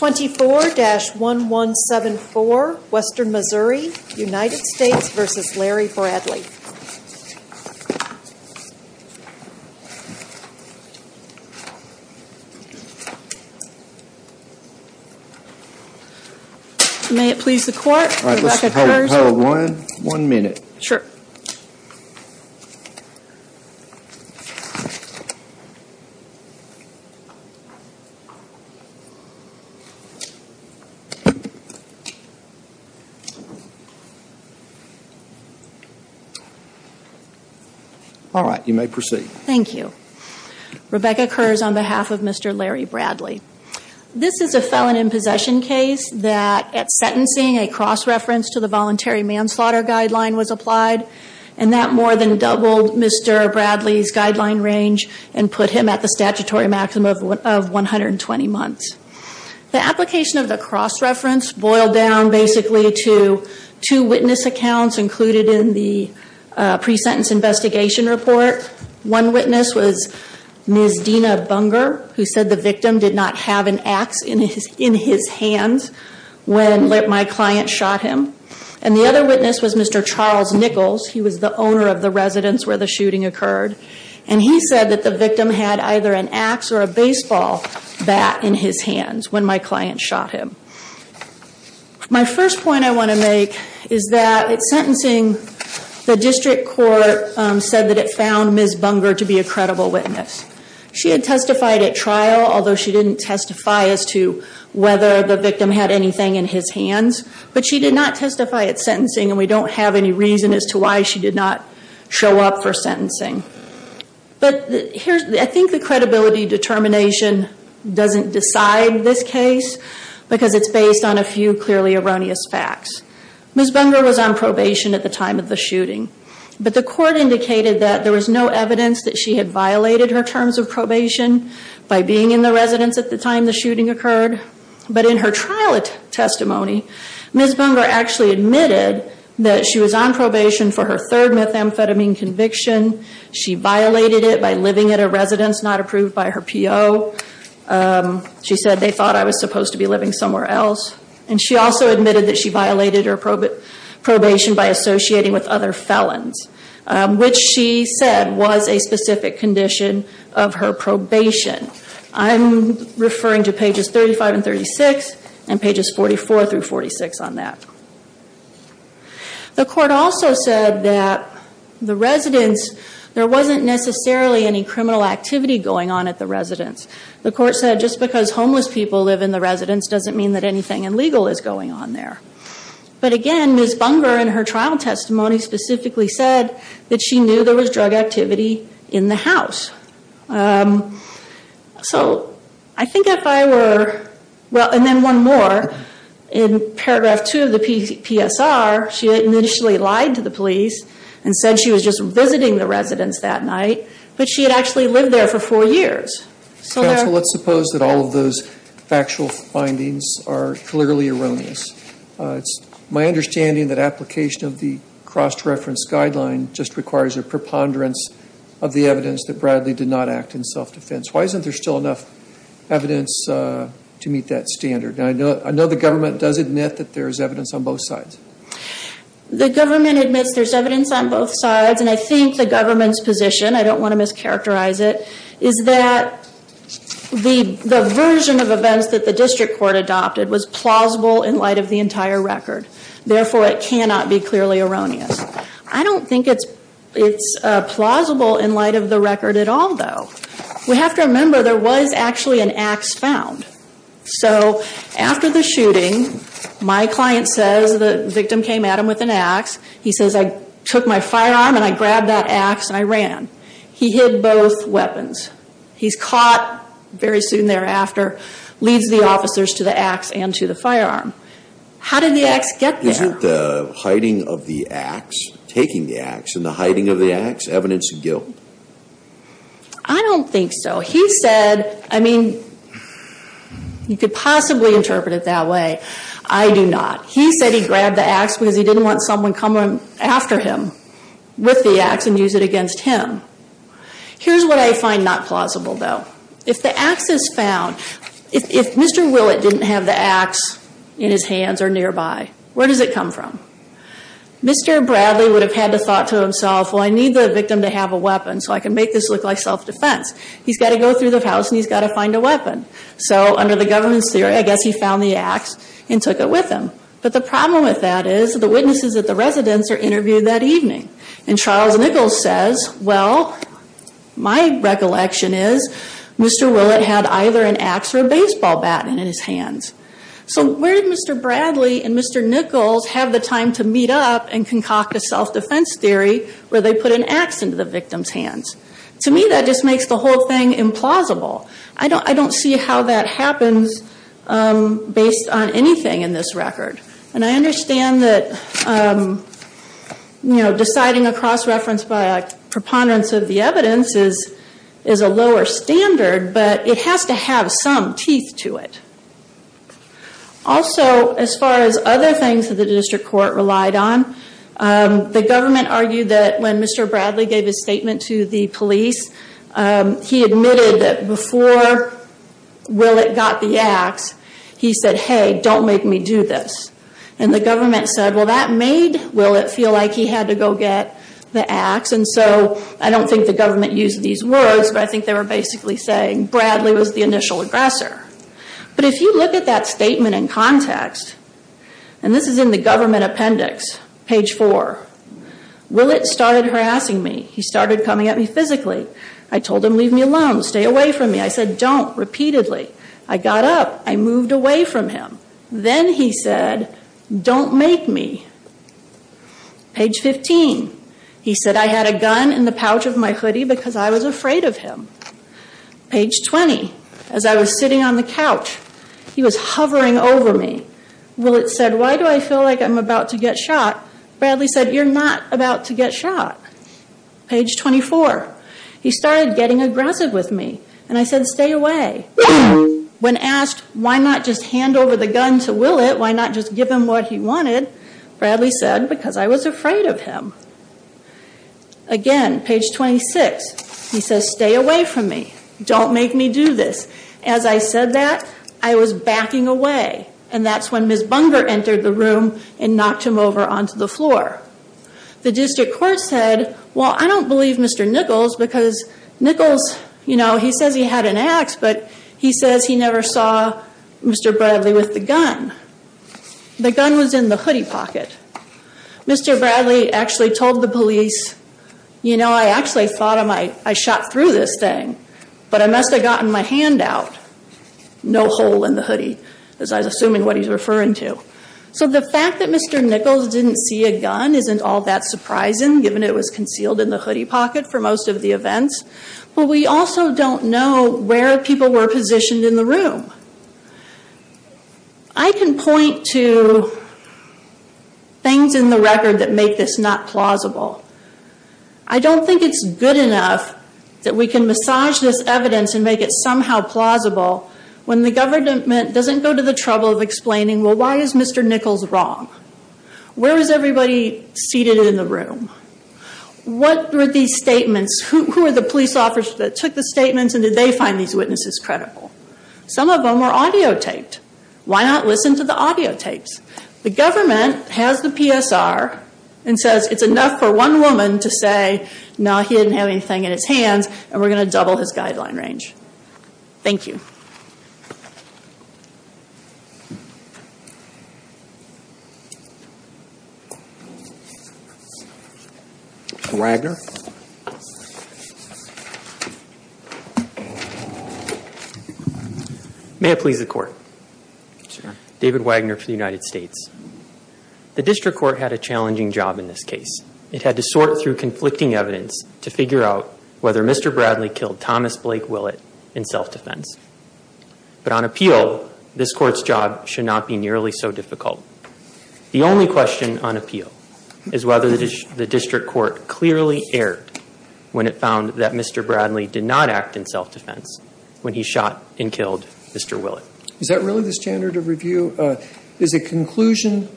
24-1174, Western Missouri, United States v. Larry Bradley May it please the court, Mr. McIntyre is over. All right, you may proceed. Thank you. Rebecca Kurz on behalf of Mr. Larry Bradley. This is a felon in possession case that at sentencing a cross-reference to the voluntary manslaughter guideline was applied and that more than doubled Mr. Bradley's guideline range and put him at the statutory maximum of 120 months. The application of the cross-reference boiled down basically to two witness accounts included in the pre-sentence investigation report. One witness was Ms. Dina Bunger, who said the victim did not have an axe in his hands when my client shot him. And the other witness was Mr. Charles Nichols. He was the owner of the residence where the shooting occurred. And he said that the victim had either an axe or a baseball bat in his hands when my client shot him. My first point I want to make is that at sentencing, the district court said that it found Ms. Bunger to be a credible witness. She had testified at trial, although she didn't testify as to whether the victim had anything in his hands. But she did not testify at sentencing and we don't have any reason as to why she did not show up for sentencing. But I think the credibility determination doesn't decide this case because it's based on a few clearly erroneous facts. Ms. Bunger was on probation at the time of the shooting. But the court indicated that there was no evidence that she had violated her terms of probation by being in the residence at the time the shooting occurred. But in her trial testimony, Ms. Bunger actually admitted that she was on probation for her third methamphetamine conviction. She violated it by living at a residence not approved by her PO. She said they thought I was supposed to be living somewhere else. And she also admitted that she violated her probation by associating with other felons, which she said was a specific condition of her probation. I'm referring to pages 35 and 36 and pages 44 through 46 on that. The court also said that the residence, there wasn't necessarily any criminal activity going on at the residence. The court said just because homeless people live in the residence doesn't mean that anything illegal is going on there. But again, Ms. Bunger in her trial testimony specifically said that she knew there was drug activity in the house. So I think if I were, well, and then one more. In paragraph two of the PSR, she initially lied to the police and said she was just visiting the residence that night. But she had actually lived there for four years. So let's suppose that all of those factual findings are clearly erroneous. It's my understanding that application of the cross-reference guideline just requires a preponderance of the evidence that Bradley did not act in self-defense. Why isn't there still enough evidence to meet that standard? And I know the government does admit that there is evidence on both sides. The government admits there's evidence on both sides. And I think the government's position, I don't want to mischaracterize it, is that the version of events that the district court adopted was plausible in light of the entire record. Therefore, it cannot be clearly erroneous. I don't think it's plausible in light of the record at all, though. We have to remember there was actually an axe found. So after the shooting, my client says the victim came at him with an axe. He says, I took my firearm and I grabbed that axe and I ran. He hid both weapons. He's caught very soon thereafter, leads the officers to the axe and to the firearm. How did the axe get there? Isn't the hiding of the axe, taking the axe, and the hiding of the axe evidence of guilt? I don't think so. He said, I mean, you could possibly interpret it that way. I do not. He said he grabbed the axe because he didn't want someone coming after him with the axe and use it against him. Here's what I find not plausible, though. If the axe is found, if Mr. Willett didn't have the axe in his hands or nearby, where does it come from? Mr. Bradley would have had the thought to himself, well, I need the victim to have a weapon so I can make this look like self-defense. He's got to go through the house and he's got to find a weapon. So under the government's theory, I guess he found the axe and took it with him. But the problem with that is the witnesses at the residence are interviewed that evening. And Charles Nichols says, well, my recollection is Mr. Willett had either an axe or a baseball bat in his hands. So where did Mr. Bradley and Mr. Nichols have the time to meet up and concoct a self-defense theory where they put an axe into the victim's hands? To me, that just makes the whole thing implausible. I don't see how that happens based on anything in this record. And I understand that deciding a cross-reference by a preponderance of the evidence is a lower standard, but it has to have some teeth to it. Also, as far as other things that the district court relied on, the government argued that when Mr. Bradley gave his statement to the police, he admitted that before Willett got the axe, he said, hey, don't make me do this. And the government said, well, that made Willett feel like he had to go get the axe. And so I don't think the government used these words, but I think they were basically saying Bradley was the initial aggressor. But if you look at that statement in context, and this is in the government appendix, page four, Willett started harassing me. He started coming at me physically. I told him, leave me alone. Stay away from me. I said, don't, repeatedly. I got up. I moved away from him. Then he said, don't make me. Page 15, he said, I had a gun in the pouch of my hoodie because I was afraid of him. Page 20, as I was sitting on the couch, he was hovering over me. Willett said, why do I feel like I'm about to get shot? Bradley said, you're not about to get shot. Page 24, he started getting aggressive with me, and I said, stay away. When asked why not just hand over the gun to Willett, why not just give him what he wanted, Bradley said, because I was afraid of him. Again, page 26, he says, stay away from me. Don't make me do this. As I said that, I was backing away. And that's when Ms. Bunger entered the room and knocked him over onto the floor. The district court said, well, I don't believe Mr. Nichols because Nichols, you know, he says he had an ax, but he says he never saw Mr. Bradley with the gun. The gun was in the hoodie pocket. Mr. Bradley actually told the police, you know, I actually thought I shot through this thing, but I must have gotten my hand out. No hole in the hoodie, as I was assuming what he's referring to. So the fact that Mr. Nichols didn't see a gun isn't all that surprising, given it was concealed in the hoodie pocket for most of the events. But we also don't know where people were positioned in the room. I can point to things in the record that make this not plausible. I don't think it's good enough that we can massage this evidence and make it somehow plausible when the government doesn't go to the trouble of explaining, well, why is Mr. Nichols wrong? Where is everybody seated in the room? What were these statements? Who were the police officers that took the statements and did they find these witnesses credible? Some of them were audio taped. Why not listen to the audio tapes? The government has the PSR and says it's enough for one woman to say, no, he didn't have anything in his hands, and we're going to double his guideline range. Thank you. Mr. Wagner. May I please the court? Sure. I'm David Wagner for the United States. The district court had a challenging job in this case. It had to sort through conflicting evidence to figure out whether Mr. Bradley killed Thomas Blake Willett in self-defense. But on appeal, this court's job should not be nearly so difficult. The only question on appeal is whether the district court clearly erred when it found that Mr. Bradley did not act in self-defense when he shot and killed Mr. Willett. Is that really the standard of review? Is a conclusion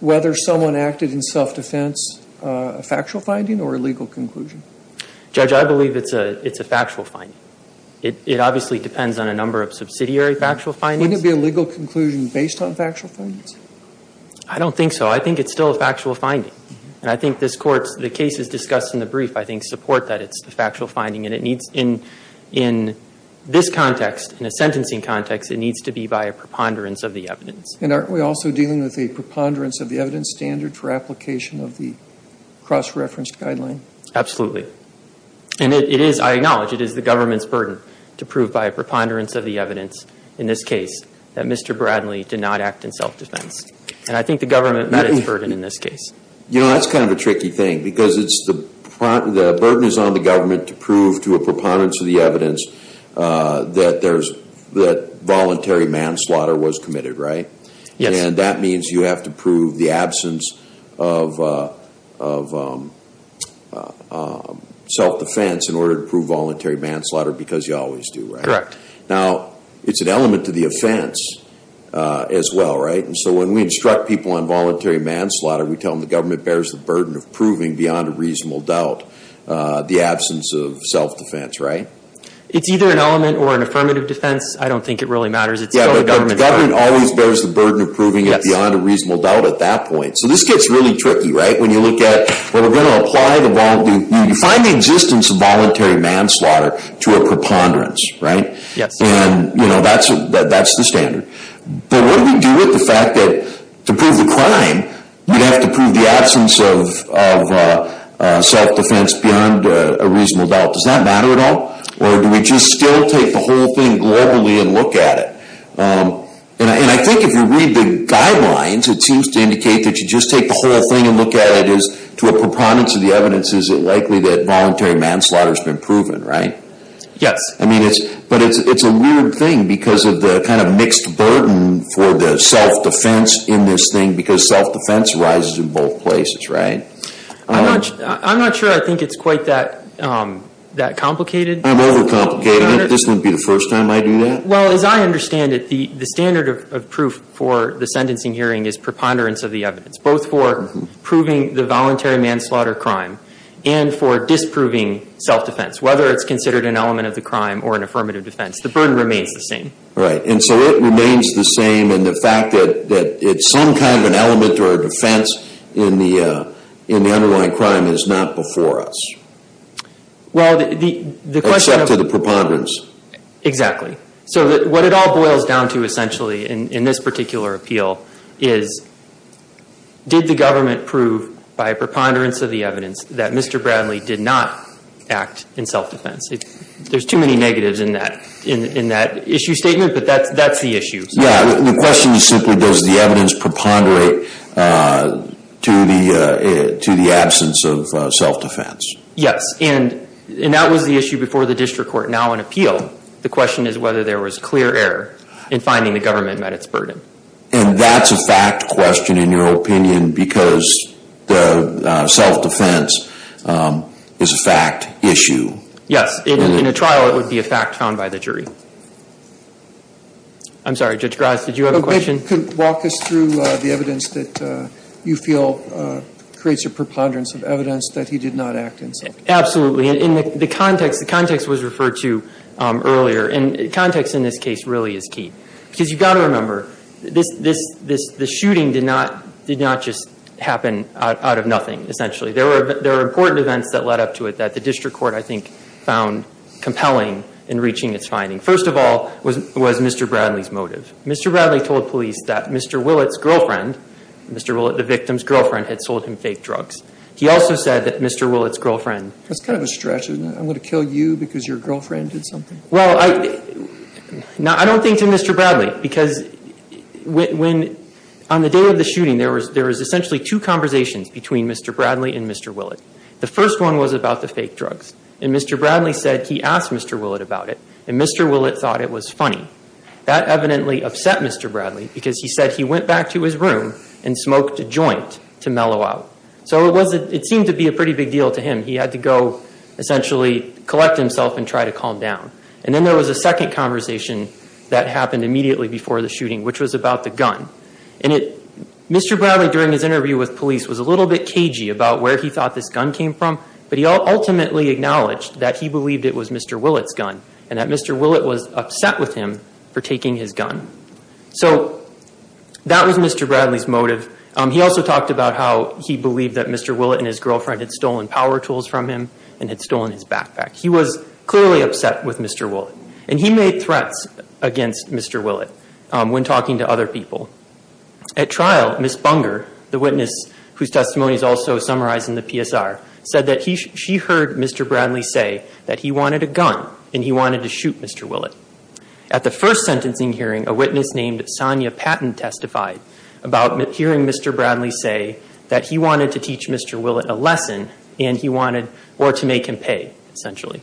whether someone acted in self-defense a factual finding or a legal conclusion? Judge, I believe it's a factual finding. It obviously depends on a number of subsidiary factual findings. Wouldn't it be a legal conclusion based on factual findings? I don't think so. I think it's still a factual finding. And I think this court's, the cases discussed in the brief, I think, support that it's a factual finding. In this context, in a sentencing context, it needs to be by a preponderance of the evidence. And aren't we also dealing with a preponderance of the evidence standard for application of the cross-reference guideline? Absolutely. And it is, I acknowledge, it is the government's burden to prove by a preponderance of the evidence in this case that Mr. Bradley did not act in self-defense. And I think the government met its burden in this case. You know, that's kind of a tricky thing because the burden is on the government to prove to a preponderance of the evidence that voluntary manslaughter was committed, right? Yes. And that means you have to prove the absence of self-defense in order to prove voluntary manslaughter because you always do, right? Correct. Now, it's an element to the offense as well, right? So when we instruct people on voluntary manslaughter, we tell them the government bears the burden of proving beyond a reasonable doubt the absence of self-defense, right? It's either an element or an affirmative defense. I don't think it really matters. It's still the government's burden. Yeah, but the government always bears the burden of proving it beyond a reasonable doubt at that point. So this gets really tricky, right? When you look at, when we're going to apply the, you find the existence of voluntary manslaughter to a preponderance, right? Yes. And, you know, that's the standard. But what do we do with the fact that to prove the crime, we have to prove the absence of self-defense beyond a reasonable doubt? Does that matter at all? Or do we just still take the whole thing globally and look at it? And I think if you read the guidelines, it seems to indicate that you just take the whole thing and look at it as to a preponderance of the evidence. Is it likely that voluntary manslaughter has been proven, right? Yes. But it's a weird thing because of the kind of mixed burden for the self-defense in this thing because self-defense rises in both places, right? I'm not sure I think it's quite that complicated. I'm over-complicating it. This wouldn't be the first time I do that. Well, as I understand it, the standard of proof for the sentencing hearing is preponderance of the evidence, both for proving the voluntary manslaughter crime and for disproving self-defense, whether it's considered an element of the crime or an affirmative defense. The burden remains the same. And so it remains the same in the fact that some kind of an element or a defense in the underlying crime is not before us. Well, the question of – Except to the preponderance. Exactly. So what it all boils down to essentially in this particular appeal is did the government prove by preponderance of the evidence that Mr. Bradley did not act in self-defense? There's too many negatives in that issue statement, but that's the issue. Yeah. The question is simply does the evidence preponderate to the absence of self-defense? Yes. And that was the issue before the district court, now in appeal. The question is whether there was clear error in finding the government met its burden. And that's a fact question, in your opinion, because the self-defense is a fact issue. Yes. In a trial, it would be a fact found by the jury. I'm sorry. Judge Graz, did you have a question? Could you walk us through the evidence that you feel creates a preponderance of evidence that he did not act in self-defense? Absolutely. In the context, the context was referred to earlier, and context in this case really is key. Because you've got to remember, this shooting did not just happen out of nothing, essentially. There were important events that led up to it that the district court, I think, found compelling in reaching its finding. First of all was Mr. Bradley's motive. Mr. Bradley told police that Mr. Willett's girlfriend, Mr. Willett, the victim's girlfriend, had sold him fake drugs. He also said that Mr. Willett's girlfriend That's kind of a stretch, isn't it? I'm going to kill you because your girlfriend did something? Well, I don't think to Mr. Bradley. Because on the day of the shooting, there was essentially two conversations between Mr. Bradley and Mr. Willett. The first one was about the fake drugs. And Mr. Bradley said he asked Mr. Willett about it, and Mr. Willett thought it was funny. That evidently upset Mr. Bradley because he said he went back to his room and smoked a joint to mellow out. So it seemed to be a pretty big deal to him. And he had to go essentially collect himself and try to calm down. And then there was a second conversation that happened immediately before the shooting, which was about the gun. And Mr. Bradley, during his interview with police, was a little bit cagey about where he thought this gun came from. But he ultimately acknowledged that he believed it was Mr. Willett's gun. And that Mr. Willett was upset with him for taking his gun. So that was Mr. Bradley's motive. He also talked about how he believed that Mr. Willett and his girlfriend had stolen power tools from him and had stolen his backpack. He was clearly upset with Mr. Willett. And he made threats against Mr. Willett when talking to other people. At trial, Ms. Bunger, the witness whose testimony is also summarized in the PSR, said that she heard Mr. Bradley say that he wanted a gun and he wanted to shoot Mr. Willett. At the first sentencing hearing, a witness named Sonya Patton testified about hearing Mr. Bradley say that he wanted to teach Mr. Willett a lesson and he wanted, or to make him pay, essentially.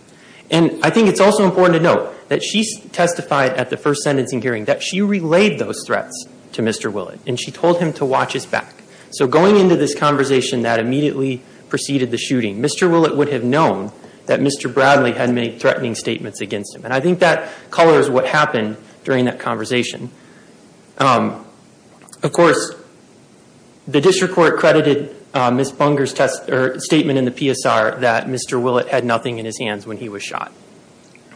And I think it's also important to note that she testified at the first sentencing hearing that she relayed those threats to Mr. Willett. And she told him to watch his back. So going into this conversation that immediately preceded the shooting, Mr. Willett would have known that Mr. Bradley had made threatening statements against him. And I think that colors what happened during that conversation. Of course, the district court credited Ms. Bunger's statement in the PSR that Mr. Willett had nothing in his hands when he was shot.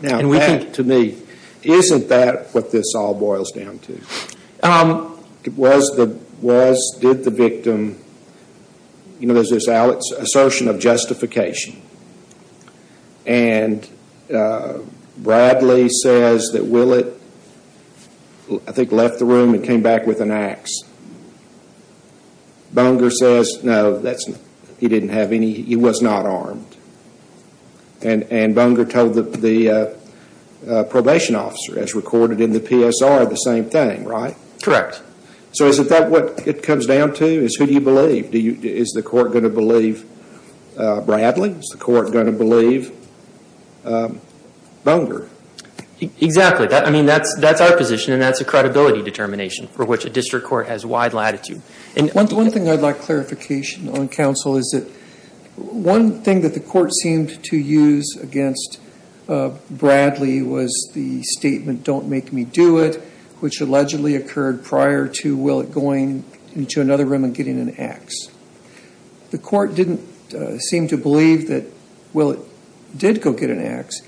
Now that, to me, isn't that what this all boils down to? Tom, was, did the victim, you know, there's this assertion of justification. And Bradley says that Willett, I think, left the room and came back with an axe. Bunger says, no, he didn't have any, he was not armed. And Bunger told the probation officer, as recorded in the PSR, the same thing, right? Correct. So is that what it comes down to, is who do you believe? Is the court going to believe Bradley? Is the court going to believe Bunger? Exactly. I mean, that's our position and that's a credibility determination for which a district court has wide latitude. One thing I'd like clarification on, counsel, is that one thing that the court seemed to use against Bradley was the statement, don't make me do it, which allegedly occurred prior to Willett going into another room and getting an axe. The court didn't seem to believe that Willett did go get an axe.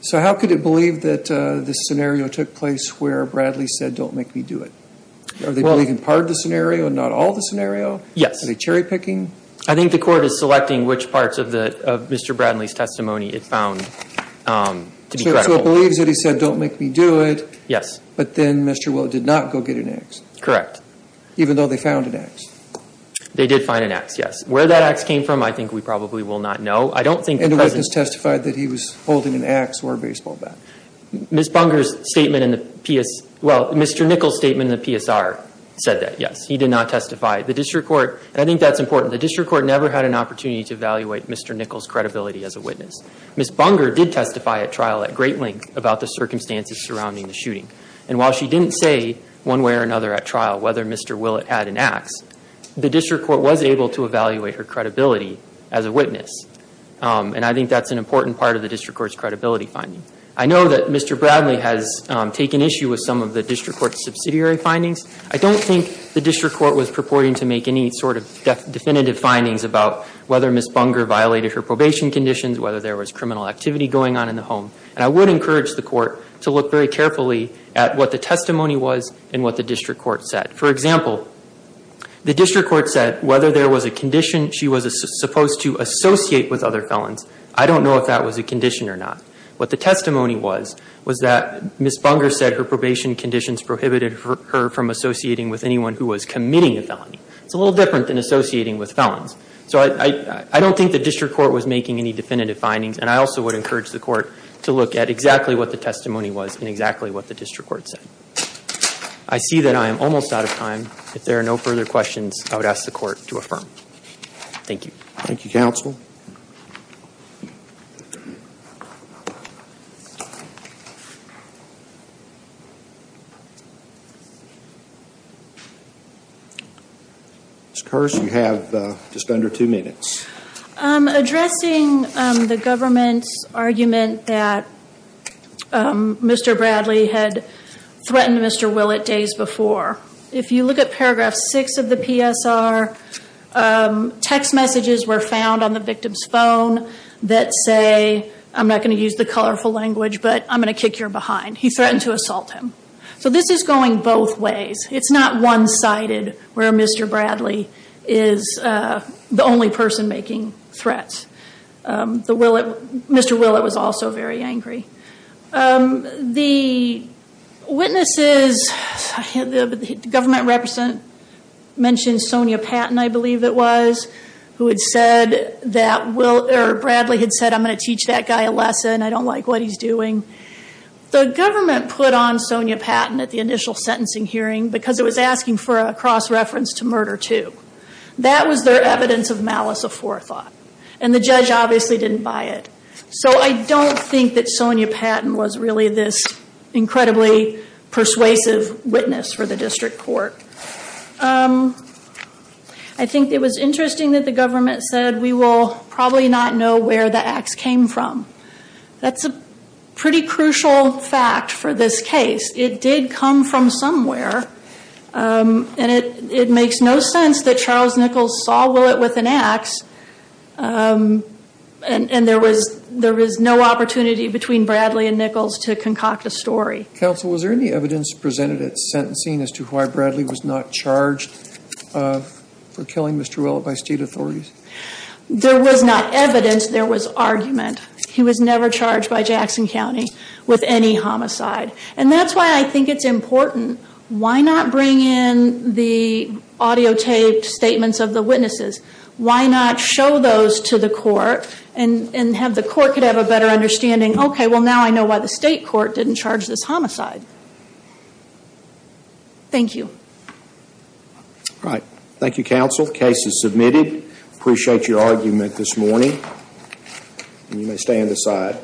So how could it believe that this scenario took place where Bradley said, don't make me do it? Are they believing part of the scenario and not all of the scenario? Yes. Are they cherry picking? I think the court is selecting which parts of Mr. Bradley's testimony it found to be credible. So it believes that he said, don't make me do it. Yes. But then Mr. Willett did not go get an axe. Correct. Even though they found an axe. They did find an axe, yes. Where that axe came from, I think we probably will not know. And the witness testified that he was holding an axe or a baseball bat. Ms. Bunger's statement in the PS, well, Mr. Nichols' statement in the PSR said that, yes. He did not testify. The district court, and I think that's important, the district court never had an opportunity to evaluate Mr. Nichols' credibility as a witness. Ms. Bunger did testify at trial at great length about the circumstances surrounding the shooting. And while she didn't say one way or another at trial whether Mr. Willett had an axe, the district court was able to evaluate her credibility as a witness. And I think that's an important part of the district court's credibility finding. I know that Mr. Bradley has taken issue with some of the district court's subsidiary findings. I don't think the district court was purporting to make any sort of definitive findings about whether Ms. Bunger violated her probation conditions, whether there was criminal activity going on in the home. And I would encourage the court to look very carefully at what the testimony was and what the district court said. For example, the district court said whether there was a condition she was supposed to associate with other felons, I don't know if that was a condition or not. What the testimony was was that Ms. Bunger said her probation conditions prohibited her from associating with anyone who was committing a felony. It's a little different than associating with felons. So I don't think the district court was making any definitive findings, and I also would encourage the court to look at exactly what the testimony was and exactly what the district court said. I see that I am almost out of time. If there are no further questions, I would ask the court to affirm. Thank you. Thank you, counsel. Ms. Kersh, you have just under two minutes. Addressing the government's argument that Mr. Bradley had threatened Mr. Willett days before, if you look at paragraph 6 of the PSR, text messages were found on the victim's phone that say, I'm not going to use the colorful language, but I'm going to kick your behind. He threatened to assault him. So this is going both ways. It's not one-sided where Mr. Bradley is the only person making threats. Mr. Willett was also very angry. The witnesses, the government representative mentioned Sonia Patton, I believe it was, who had said that Bradley had said, I'm going to teach that guy a lesson. I don't like what he's doing. The government put on Sonia Patton at the initial sentencing hearing because it was asking for a cross-reference to murder too. That was their evidence of malice aforethought. And the judge obviously didn't buy it. So I don't think that Sonia Patton was really this incredibly persuasive witness for the district court. I think it was interesting that the government said, we will probably not know where the ax came from. That's a pretty crucial fact for this case. It did come from somewhere. And it makes no sense that Charles Nichols saw Willett with an ax. And there was no opportunity between Bradley and Nichols to concoct a story. Counsel, was there any evidence presented at sentencing as to why Bradley was not charged for killing Mr. Willett by state authorities? There was not evidence, there was argument. He was never charged by Jackson County with any homicide. And that's why I think it's important. Why not bring in the audiotaped statements of the witnesses? Why not show those to the court and have the court have a better understanding? Okay, well now I know why the state court didn't charge this homicide. Thank you. All right. Thank you, counsel. Case is submitted. Appreciate your argument this morning. You may stand aside.